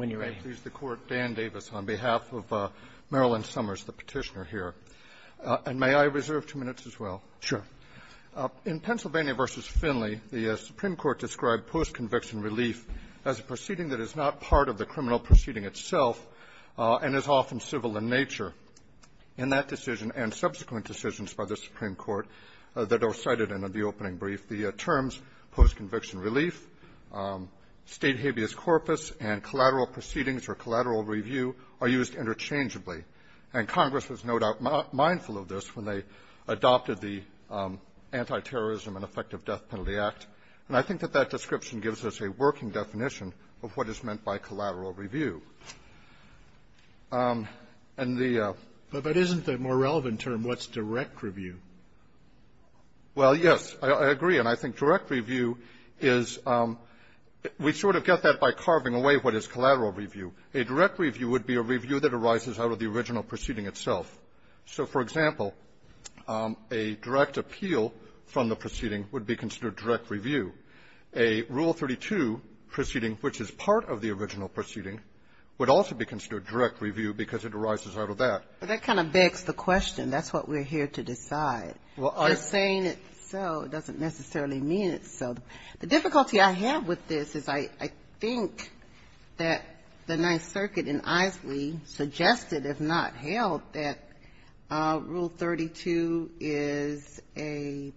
on behalf of Marilyn Summers, the petitioner, here. And may I reserve two minutes as well? Sure. In Pennsylvania v. Finley, the Supreme Court described post-conviction relief as a proceeding that is not part of the criminal proceeding itself and is often civil in nature. In that decision and subsequent decisions by the Supreme Court that are cited in the opening brief, the terms post-conviction relief, state habeas corpus, and collateral proceedings or collateral review are used interchangeably. And Congress was no doubt mindful of this when they adopted the Antiterrorism and Effective Death Penalty Act. And I think that that description gives us a working definition of what is meant by collateral review. And the ---- But that isn't the more relevant term. What's direct review? Well, yes. I agree. And I think direct review is we sort of get that by carving away what is collateral review. A direct review would be a review that arises out of the original proceeding itself. So, for example, a direct appeal from the proceeding would be considered direct review. A Rule 32 proceeding, which is part of the original proceeding, would also be considered direct review because it arises out of that. But that kind of begs the question. That's what we're here to decide. Well, I ---- Just saying it's so doesn't necessarily mean it's so. The difficulty I have with this is I think that the Ninth Circuit in Isley suggested, if not held, that Rule 32 is a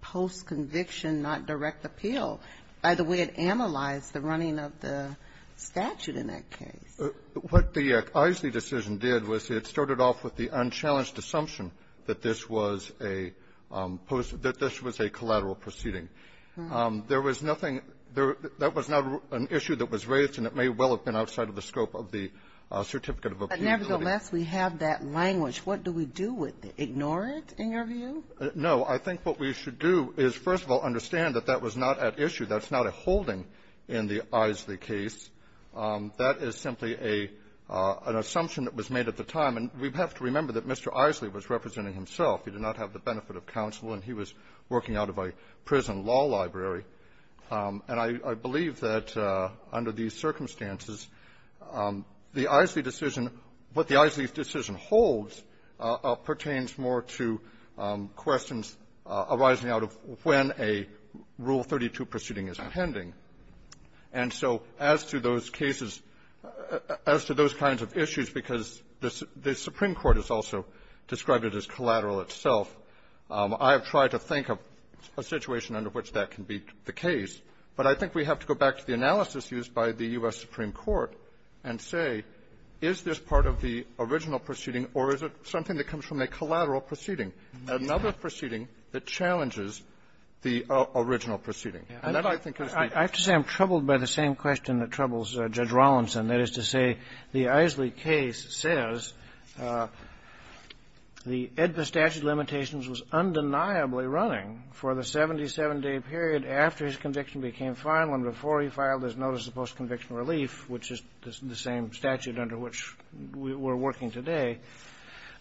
post-conviction, not direct appeal, by the way it analyzed the running of the statute in that case. What the Isley decision did was it started off with the unchallenged assumption that this was a post ---- that this was a collateral proceeding. There was nothing ---- that was not an issue that was raised, and it may well have been outside of the scope of the certificate of appeal. But nevertheless, we have that language. What do we do with it? Ignore it, in your view? No. I think what we should do is, first of all, understand that that was not at issue. That's not a holding in the Isley case. That is simply a ---- an assumption that was made at the time. And we have to remember that Mr. Isley was representing himself. He did not have the benefit of counsel, and he was working out of a prison law library. And I ---- I believe that under these circumstances, the Isley decision, what the Isley decision holds, pertains more to questions arising out of when a Rule 32 proceeding is pending. And so as to those cases, as to those kinds of issues, because the Supreme Court has also described it as collateral itself, I have tried to think of a situation under which that can be the case. But I think we have to go back to the analysis used by the U.S. Supreme Court and say, is this part of the original proceeding, or is it something that comes from a collateral proceeding, another proceeding that challenges the original proceeding? And that, I think, is the question. I have to say I'm troubled by the same question that troubles Judge Rollinson. That is to say, the Isley case says the statute of limitations was undeniably running for the 77-day period after his conviction became final and before he filed his notice of post-conviction relief, which is the same statute under which we're working today.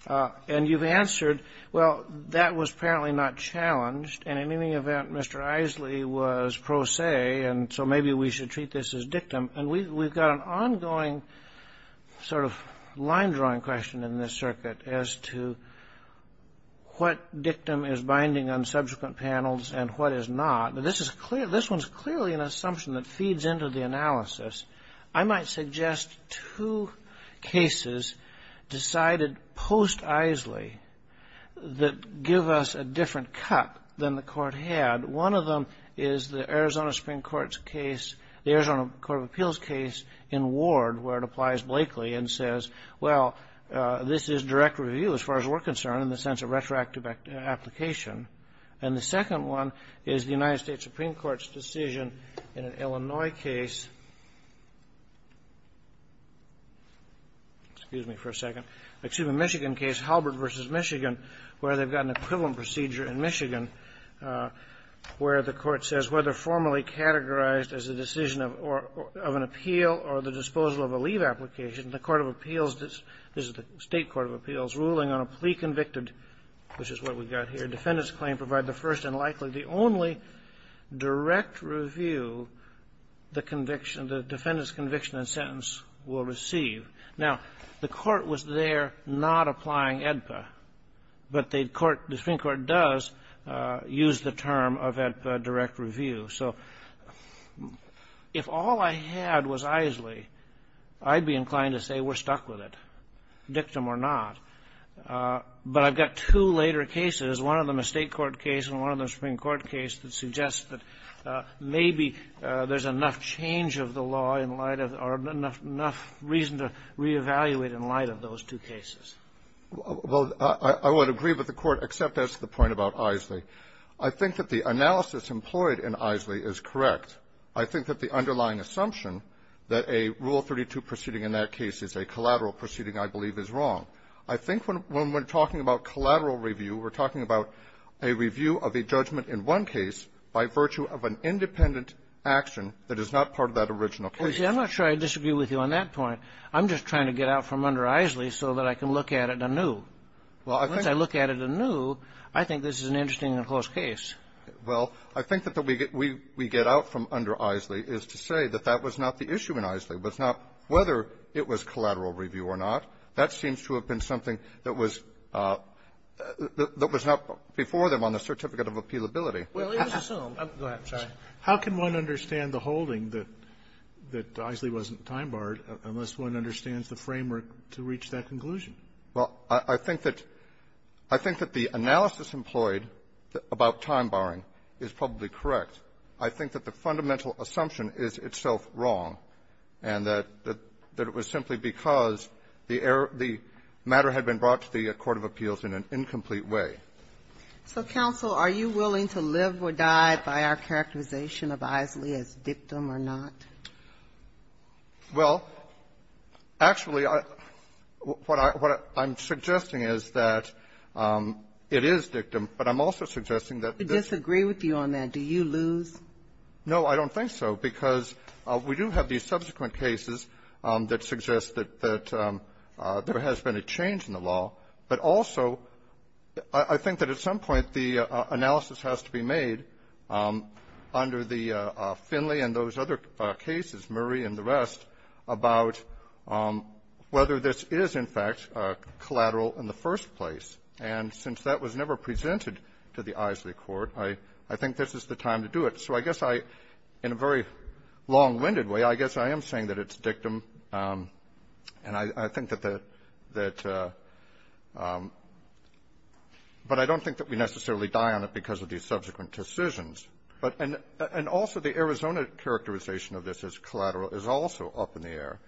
And you've answered, well, that was apparently not challenged. And in any event, Mr. Isley was pro se, and so maybe we should treat this as dictum. And we've got an ongoing sort of line-drawing question in this circuit as to what dictum is binding on subsequent panels and what is not. But this one's clearly an assumption that feeds into the analysis. I might suggest two cases decided post-Isley that give us a different cut than the court had. One of them is the Arizona Supreme Court's case, the Arizona Court of Appeals case in Ward, where it applies Blakely and says, well, this is direct review as far as we're concerned in the sense of retroactive application. And the second one is the United States Supreme Court's decision in an Illinois case, excuse me for a second, excuse me, Michigan case, Halbert v. Michigan, where they've got an equivalent procedure in Michigan, where the court says, whether formally categorized as a decision of an appeal or the disposal of a leave application, the court of appeals, this is the state court of appeals, ruling on a pre-convicted, which is what we've got here, defendant's claim provide the first and likely the only direct review the defendant's conviction and sentence will receive. Now, the court was there not applying AEDPA, but the Supreme Court does use the term of AEDPA direct review. So if all I had was Isley, I'd be inclined to say we're stuck with it, dictum or not. But I've got two later cases, one of them a state court case and one of them a Supreme Court case, that suggests that maybe there's enough change of the law in light of or enough reason to reevaluate in light of those two cases. Well, I would agree with the Court, except as to the point about Isley. I think that the analysis employed in Isley is correct. I think that the underlying assumption that a Rule 32 proceeding in that case is a collateral proceeding, I believe, is wrong. I think when we're talking about collateral review, we're talking about a review of a judgment in one case by virtue of an independent action that is not part of that original case. Well, see, I'm not sure I disagree with you on that point. I'm just trying to get out from under Isley so that I can look at it anew. Well, I think that we get out from under Isley is to say that that was not the issue in Isley, was not whether it was collateral review or not. That seems to have been something that was not before them on the Certificate of Appealability. Well, it was assumed. Go ahead. I'm sorry. How can one understand the holding that Isley wasn't time-barred, unless one understands the framework to reach that conclusion? Well, I think that the analysis employed about time-barring is probably correct. I think that the fundamental assumption is itself wrong, and that it was simply because the error of the matter had been brought to the court of appeals in an incomplete way. So, counsel, are you willing to live or die by our characterization of Isley as dictum or not? Well, actually, what I'm suggesting is that it is dictum, but I'm also suggesting that this ---- We disagree with you on that. Do you lose? No, I don't think so, because we do have these subsequent cases that suggest that there has been a change in the law, but also I think that at some point the analysis has to be made under the Finley and those other cases, Murray and the rest, about whether this is, in fact, collateral in the first place. And since that was never presented to the Isley court, I think this is the time to do it. So I guess I ---- in a very long-winded way, I guess I am saying that it's dictum, and I think that the ---- that ---- but I don't think that we necessarily die on it because of these subsequent decisions. But ---- and also the Arizona characterization of this as collateral is also up in the air.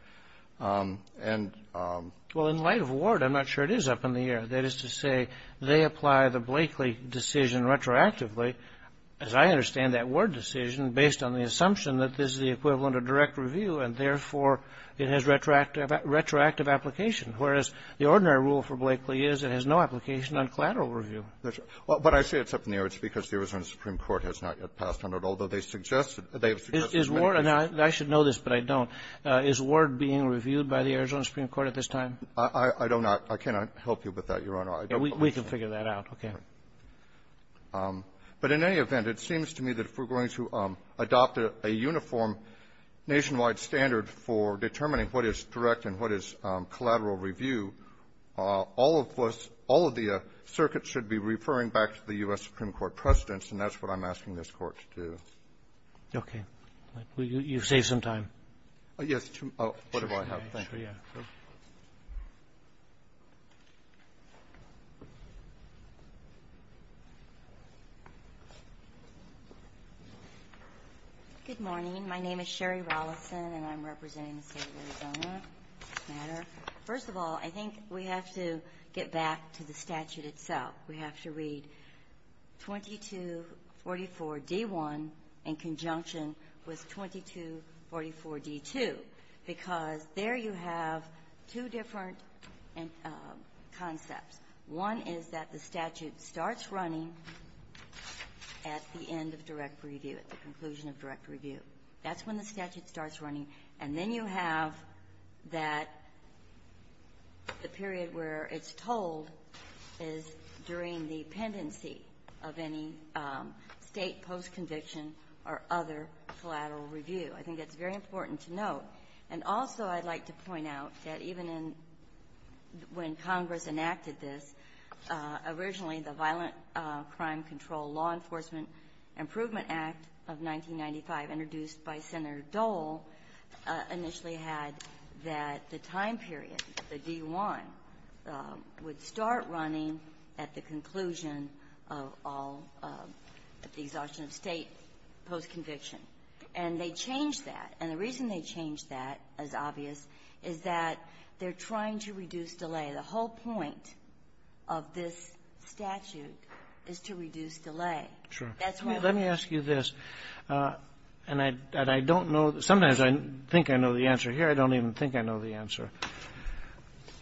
And ---- Well, in light of Ward, I'm not sure it is up in the air. That is to say, they apply the Blakeley decision retroactively. As I understand that Ward decision, based on the assumption that this is the equivalent of direct review, and therefore it has retroactive application, whereas the ordinary rule for Blakeley is it has no application on collateral review. That's right. But I say it's up in the air. It's because the Arizona supreme court has not yet passed on it, although they suggested ---- Is Ward ---- and I should know this, but I don't. Is Ward being reviewed by the Arizona supreme court at this time? I don't know. I cannot help you with that, Your Honor. We can figure that out. Okay. But in any event, it seems to me that if we're going to adopt a uniform nationwide standard for determining what is direct and what is collateral review, all of us, all of the circuits should be referring back to the U.S. supreme court precedents, and that's what I'm asking this Court to do. Okay. You've saved some time. Yes. Oh, what do I have? Thank you. Good morning. My name is Sherry Rolison, and I'm representing the State of Arizona. First of all, I think we have to get back to the statute itself. We have to read 2244d1 in conjunction with 2244d2, because there you have the statute and here you have two different concepts. One is that the statute starts running at the end of direct review, at the conclusion of direct review. That's when the statute starts running. And then you have that the period where it's told is during the pendency of any State post-conviction or other collateral review. I think that's very important to note. And also I'd like to point out that even in when Congress enacted this, originally the Violent Crime Control Law Enforcement Improvement Act of 1995, introduced by Senator Dole, initially had that the time period, the D1, would start running at the conclusion of all of the exhaustion of State post-conviction. And they changed that. And the reason they changed that, as obvious, is that they're trying to reduce delay. The whole point of this statute is to reduce delay. That's why we're going to do it. Roberts. Let me ask you this, and I don't know. Sometimes I think I know the answer here. I don't even think I know the answer.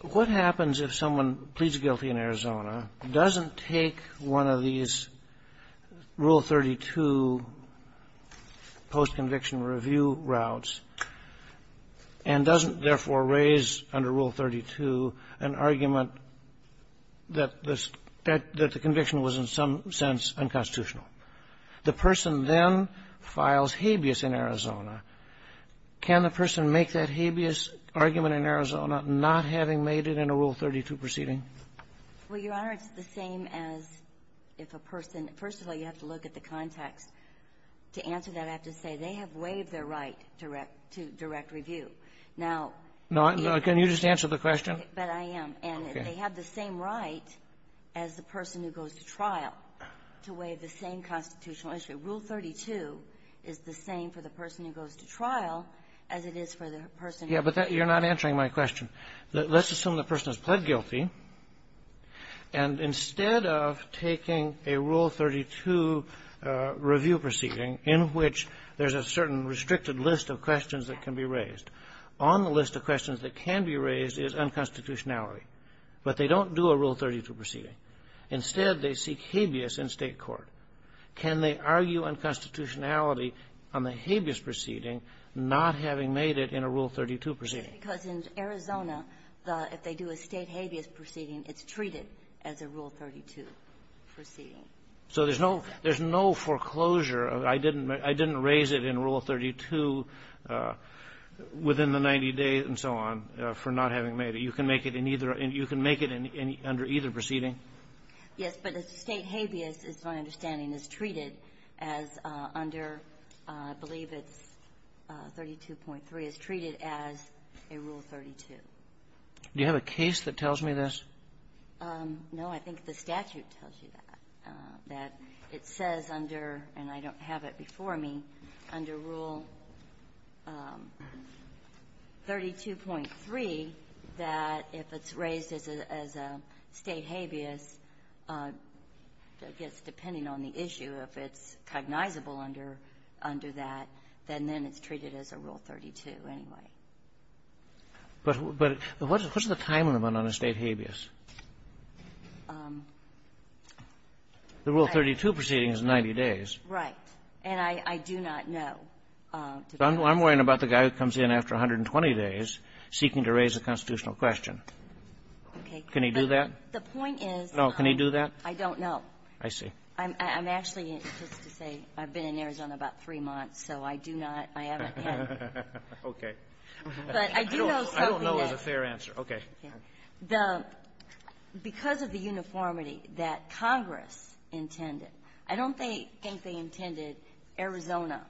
What happens if someone pleads guilty in Arizona, doesn't take one of these Rule 32 post-conviction review routes, and doesn't, therefore, raise under Rule 32 an argument that the conviction was in some sense unconstitutional? The person then files habeas in Arizona. Can the person make that habeas argument in Arizona not having made it in a Rule 32 proceeding? Well, Your Honor, it's the same as if a person – first of all, you have to look at the context. To answer that, I have to say they have waived their right to direct review. Now – No. Can you just answer the question? But I am. And they have the same right as the person who goes to trial to waive the same constitutional issue. Rule 32 is the same for the person who goes to trial as it is for the person who – Yeah. But you're not answering my question. Let's assume the person has pled guilty. And instead of taking a Rule 32 review proceeding in which there's a certain restricted list of questions that can be raised, on the list of questions that can be raised is unconstitutionality. But they don't do a Rule 32 proceeding. Instead, they seek habeas in State court. Can they argue unconstitutionality on the habeas proceeding not having made it in a Rule 32 proceeding? Because in Arizona, if they do a State habeas proceeding, it's treated as a Rule 32 proceeding. So there's no – there's no foreclosure. I didn't raise it in Rule 32 within the 90 days and so on for not having made it. You can make it in either – you can make it under either proceeding? Yes. But a State habeas, it's my understanding, is treated as under – I believe it's under Rule 32.3, is treated as a Rule 32. Do you have a case that tells me this? No. I think the statute tells you that, that it says under – and I don't have it before me – under Rule 32.3 that if it's raised as a State habeas, I guess, depending on the issue, if it's cognizable under that, then then it's treated as a State habeas, and it's treated as a Rule 32 anyway. But what's the time limit on a State habeas? The Rule 32 proceeding is 90 days. Right. And I do not know. I'm worrying about the guy who comes in after 120 days seeking to raise a constitutional question. Okay. Can he do that? The point is – No. Can he do that? I don't know. I see. I'm actually, just to say, I've been in Arizona about three months, so I do not know. I haven't had that. Okay. But I do know something else. I don't know is a fair answer. Okay. The – because of the uniformity that Congress intended, I don't think they intended Arizona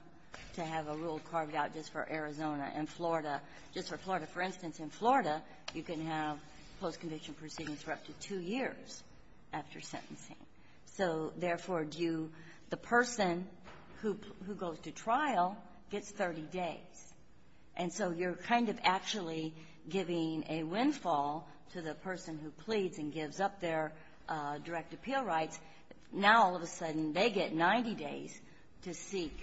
to have a rule carved out just for Arizona and Florida, just for Florida. For instance, in Florida, you can have post-conviction proceedings for up to two years after sentencing. So therefore, do you – the person who goes to trial gets up to 30 days. And so you're kind of actually giving a windfall to the person who pleads and gives up their direct appeal rights. Now, all of a sudden, they get 90 days to seek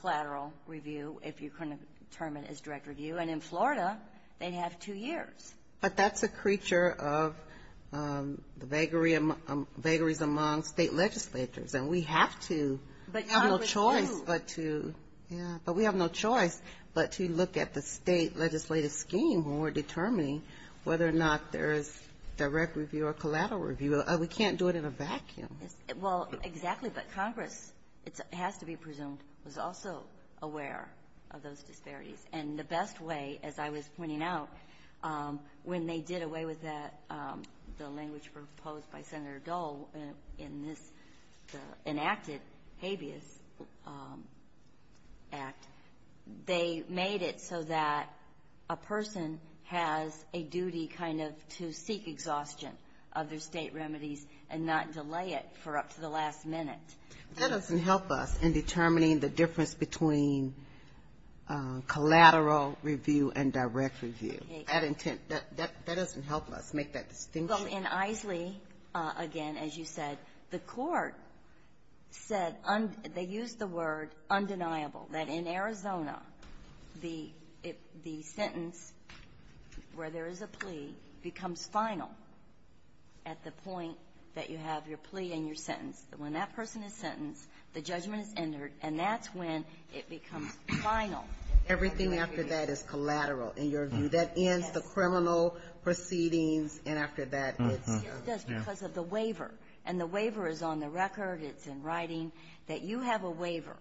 collateral review, if you're going to term it as direct review. And in Florida, they'd have two years. But that's a creature of the vagaries among state legislatures. And we have to – we have no choice but to – Yeah. But we have no choice but to look at the state legislative scheme when we're determining whether or not there's direct review or collateral review. We can't do it in a vacuum. Well, exactly. But Congress, it has to be presumed, was also aware of those disparities. And the best way, as I was pointing out, when they did away with that, the language proposed by Senator Dole in this – the enacted habeas act, they made it so that a person has a duty kind of to seek exhaustion of their state remedies and not delay it for up to the last minute. That doesn't help us in determining the difference between collateral review and direct review. Okay. That doesn't help us make that distinction. Well, in Eiseley, again, as you said, the court said – they used the word undeniable. That in Arizona, the sentence where there is a plea becomes final at the point that you have your plea and your sentence. When that person is sentenced, the judgment is entered, and that's when it becomes final. Everything after that is collateral, in your view. Yes. At the criminal proceedings, and after that, it's – It's just because of the waiver. And the waiver is on the record, it's in writing, that you have a waiver.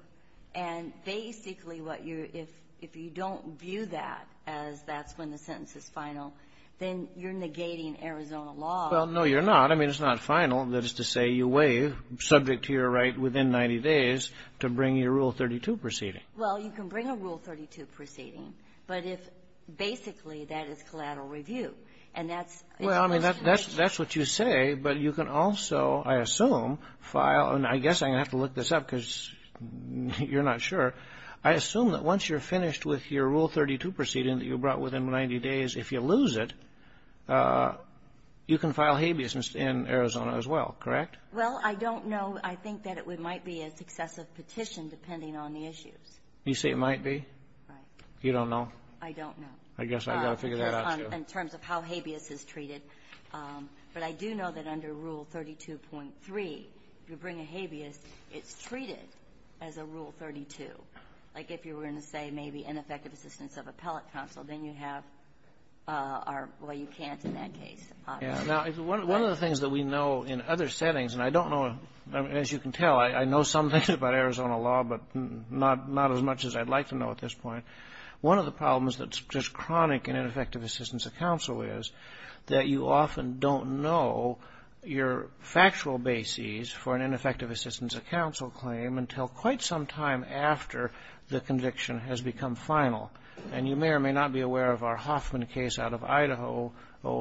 And basically, what you – if you don't view that as that's when the sentence is final, then you're negating Arizona law. Well, no, you're not. I mean, it's not final. That is to say, you waive, subject to your right within 90 days, to bring your Rule 32 proceeding. Well, you can bring a Rule 32 proceeding. But if – basically, that is collateral review. And that's – Well, I mean, that's what you say, but you can also, I assume, file – and I guess I'm going to have to look this up, because you're not sure. I assume that once you're finished with your Rule 32 proceeding that you brought within 90 days, if you lose it, you can file habeas in Arizona as well, correct? Well, I don't know. I think that it might be a successive petition, depending on the issues. You say it might be? Right. You don't know? I don't know. I guess I've got to figure that out, too. In terms of how habeas is treated. But I do know that under Rule 32.3, if you bring a habeas, it's treated as a Rule 32. Like, if you were going to say, maybe, ineffective assistance of appellate counsel, then you have – well, you can't in that case, obviously. Yeah. Now, one of the things that we know in other settings – and I don't know – as you can tell, I know some things about Arizona law, but not as much as I'd like to know at this point. One of the problems that's just chronic in ineffective assistance of counsel is that you often don't know your factual bases for an ineffective assistance of counsel claim until quite some time after the conviction has become final. And you may or may not be aware of our Hoffman case out of Idaho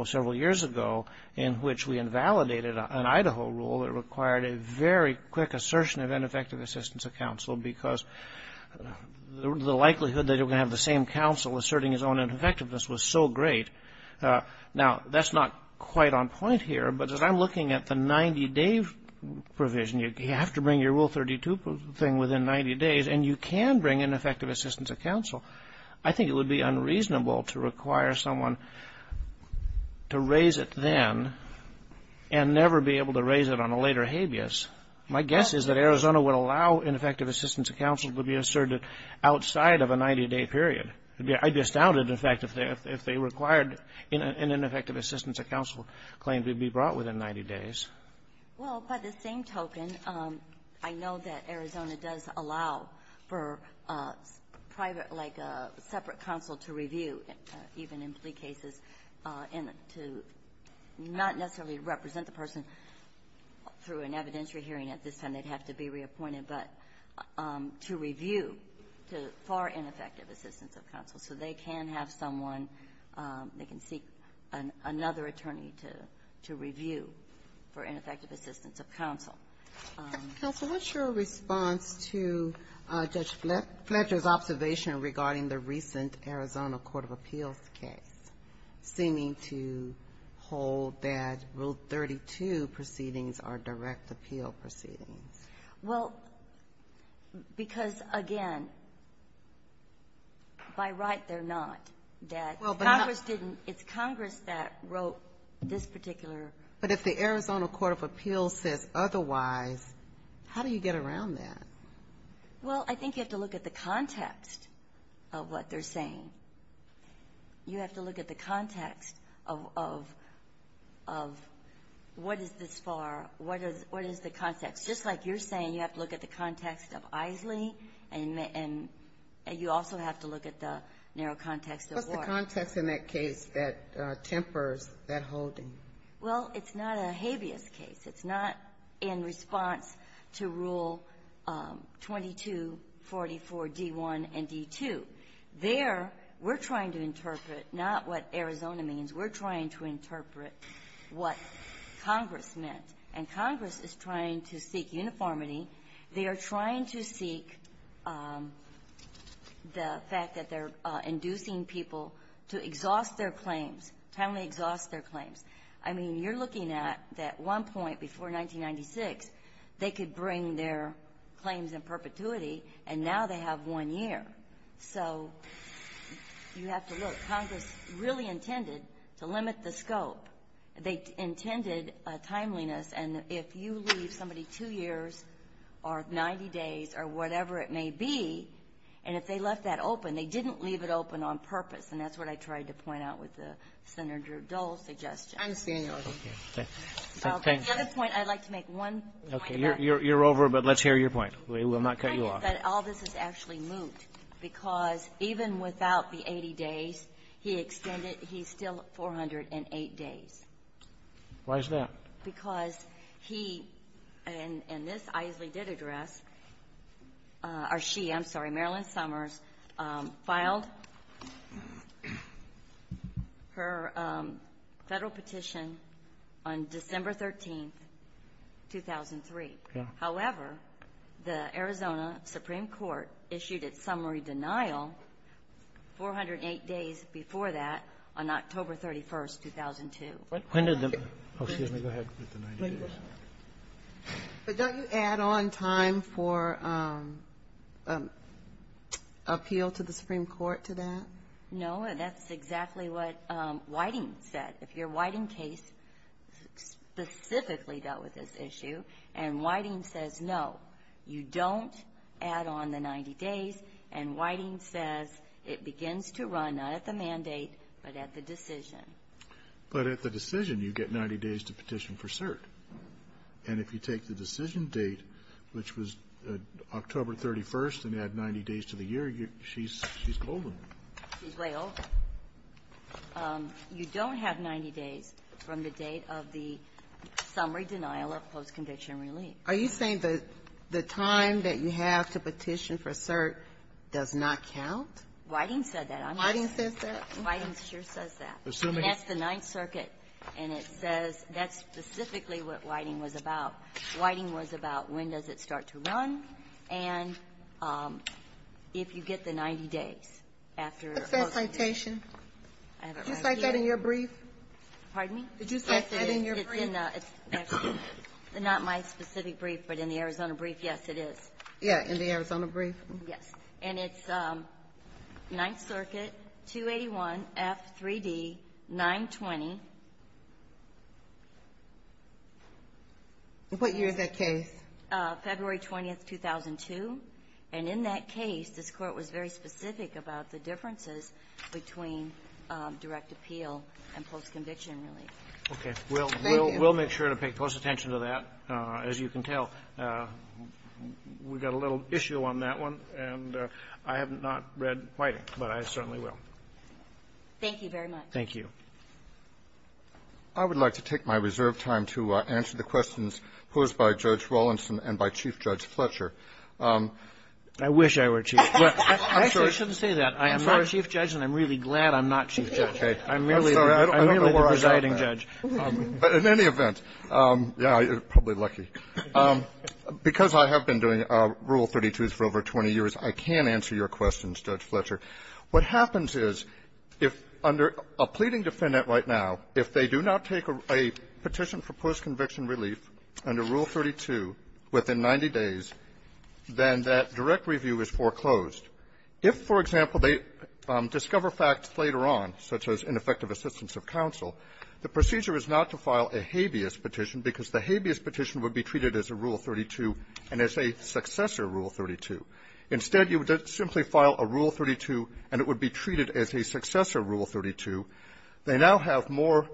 several years ago, in which we invalidated an Idaho rule that required a very quick assertion of ineffective assistance of counsel because the likelihood that you're going to have the same counsel asserting his own ineffectiveness was so great. Now, that's not quite on point here, but as I'm looking at the 90-day provision, you have to bring your Rule 32 thing within 90 days, and you can bring ineffective assistance of counsel. I think it would be unreasonable to require someone to raise it then and never be able to raise it on a later habeas. My guess is that Arizona would allow ineffective assistance of counsel to be asserted outside of a 90-day period. I'd be astounded, in fact, if they required an ineffective assistance of counsel claim to be brought within 90 days. Well, by the same token, I know that Arizona does allow for private, like a separate counsel to review, even in plea cases, and to not necessarily represent the person through an evidentiary hearing at this time. They'd have to be reappointed, but to review for ineffective assistance of counsel. So they can have someone, they can seek another attorney to review for ineffective assistance of counsel. Counsel, what's your response to Judge Fletcher's observation regarding the recent Arizona Court of Appeals case seeming to hold that Rule 32 proceedings are direct appeal proceedings? Well, because, again, by right, they're not, that Congress didn't — it's Congress that wrote this particular — But if the Arizona Court of Appeals says otherwise, how do you get around that? Well, I think you have to look at the context of what they're saying. You have to look at the context of what is this for, what is the context. Just like you're saying, you have to look at the context of Isley, and you also have to look at the narrow context of Ward. What's the context in that case that tempers that holding? Well, it's not a habeas case. It's not in response to Rule 2244d1 and d2. There, we're trying to interpret not what Arizona means. We're trying to interpret what Congress meant. And Congress is trying to seek uniformity. They are trying to seek the fact that they're inducing people to exhaust their claims, timely exhaust their claims. I mean, you're looking at that one point before 1996, they could bring their claims in perpetuity, and now they have one year. So you have to look. Congress really intended to limit the scope. They intended timeliness, and if you leave somebody two years or 90 days or whatever it may be, and if they left that open, they didn't leave it open on purpose, and that's what I tried to point out with Senator Dole's suggestion. I understand your argument. Okay. The other point, I'd like to make one point about the other point. Okay. You're over, but let's hear your point. We will not cut you off. The point is that all this is actually moot, because even without the 80 days, he extended he's still 408 days. Why is that? Because he, and this Isley did address, or she, I'm sorry, Marilyn Summers, filed her Federal petition on December 13th, 2003. However, the Arizona Supreme Court issued its summary denial 408 days before that on October 31st, 2002. When did the go ahead with the 90 days? But don't you add on time for appeal to the Supreme Court to that? No, and that's exactly what Whiting said. If your Whiting case specifically dealt with this issue, and Whiting says no, you don't add on the 90 days, and Whiting says it begins to run not at the mandate, but at the decision. But at the decision, you get 90 days to petition for cert. And if you take the decision date, which was October 31st, and add 90 days to the year, she's golden. She's way over. You don't have 90 days from the date of the summary denial of post-conviction relief. Are you saying that the time that you have to petition for cert does not count? Whiting said that. Whiting says that? Whiting sure says that. And that's the Ninth Circuit, and it says that's specifically what Whiting was about. Whiting was about when does it start to run, and if you get the 90 days after post-conviction. What's that citation? I have it right here. Did you cite that in your brief? Pardon me? Did you cite that in your brief? Yes, it is. It's not my specific brief, but in the Arizona brief, yes, it is. Yeah, in the Arizona brief. Yes. And it's Ninth Circuit, 281F3D920. And what year is that case? February 20th, 2002. And in that case, this Court was very specific about the differences between direct appeal and post-conviction relief. Okay. Thank you. We'll make sure to pay close attention to that. As you can tell, we've got a little issue on that one, and I have not read Whiting, but I certainly will. Thank you very much. Thank you. I would like to take my reserved time to answer the questions posed by Judge Rawlinson and by Chief Judge Fletcher. I wish I were Chief. I'm sorry. I shouldn't say that. I am not a Chief Judge, and I'm really glad I'm not Chief Judge. I'm merely the presiding judge. But in any event, yeah, you're probably lucky. Because I have been doing Rule 32s for over 20 years, I can answer your questions, Judge Fletcher. What happens is, if under a pleading defendant right now, if they do not take a petition for post-conviction relief under Rule 32 within 90 days, then that direct review is foreclosed. If, for example, they discover facts later on, such as ineffective assistance of counsel, the procedure is not to file a habeas petition, because the habeas petition would be treated as a Rule 32 and as a successor Rule 32. Instead, you would simply file a Rule 32, and it would be treated as a successor Rule 32. They now have more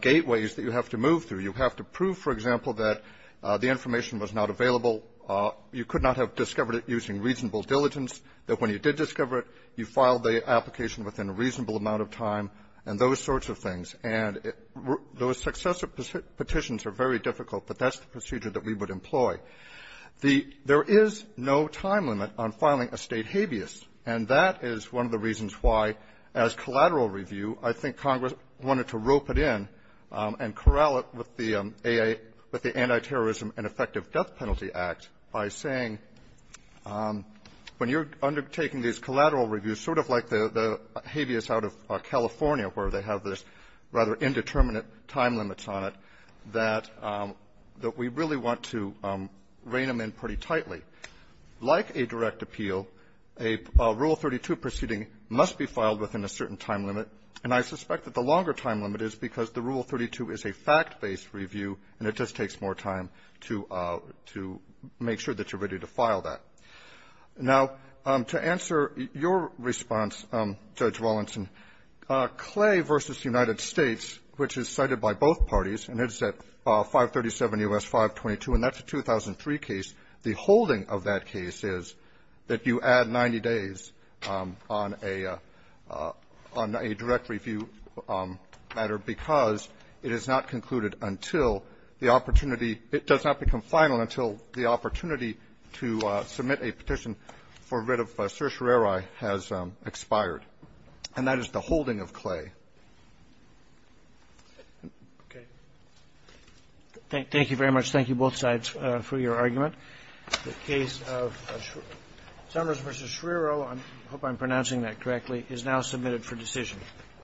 gateways that you have to move through. You have to prove, for example, that the information was not available, you could not have discovered it using reasonable diligence, that when you did discover it, you filed the application within a reasonable amount of time, and those sorts of things. And those successor petitions are very difficult, but that's the procedure that we would employ. There is no time limit on filing a State habeas, and that is one of the reasons why, as collateral review, I think Congress wanted to rope it in and corral it with the anti-terrorism and effective death penalty act by saying, when you're undertaking these collateral reviews, sort of like the habeas out of California, where they have this rather indeterminate time limit on it, that we really want to rein them in pretty tightly. Like a direct appeal, a Rule 32 proceeding must be filed within a certain time limit, and I suspect that the longer time limit is because the Rule Roberts, your response, Judge Rawlinson, Clay v. United States, which is cited by both parties, and it's at 537 U.S. 522, and that's a 2003 case, the holding of that case is that you add 90 days on a direct review matter because it is not concluded until the opportunity — it does not become final until the opportunity to submit a petition for writ of certiorari has expired, and that is the holding of Clay. Okay. Thank you very much. Thank you, both sides, for your argument. The case of Summers v. Schreiro — I hope I'm pronouncing that correctly — is now submitted for decision.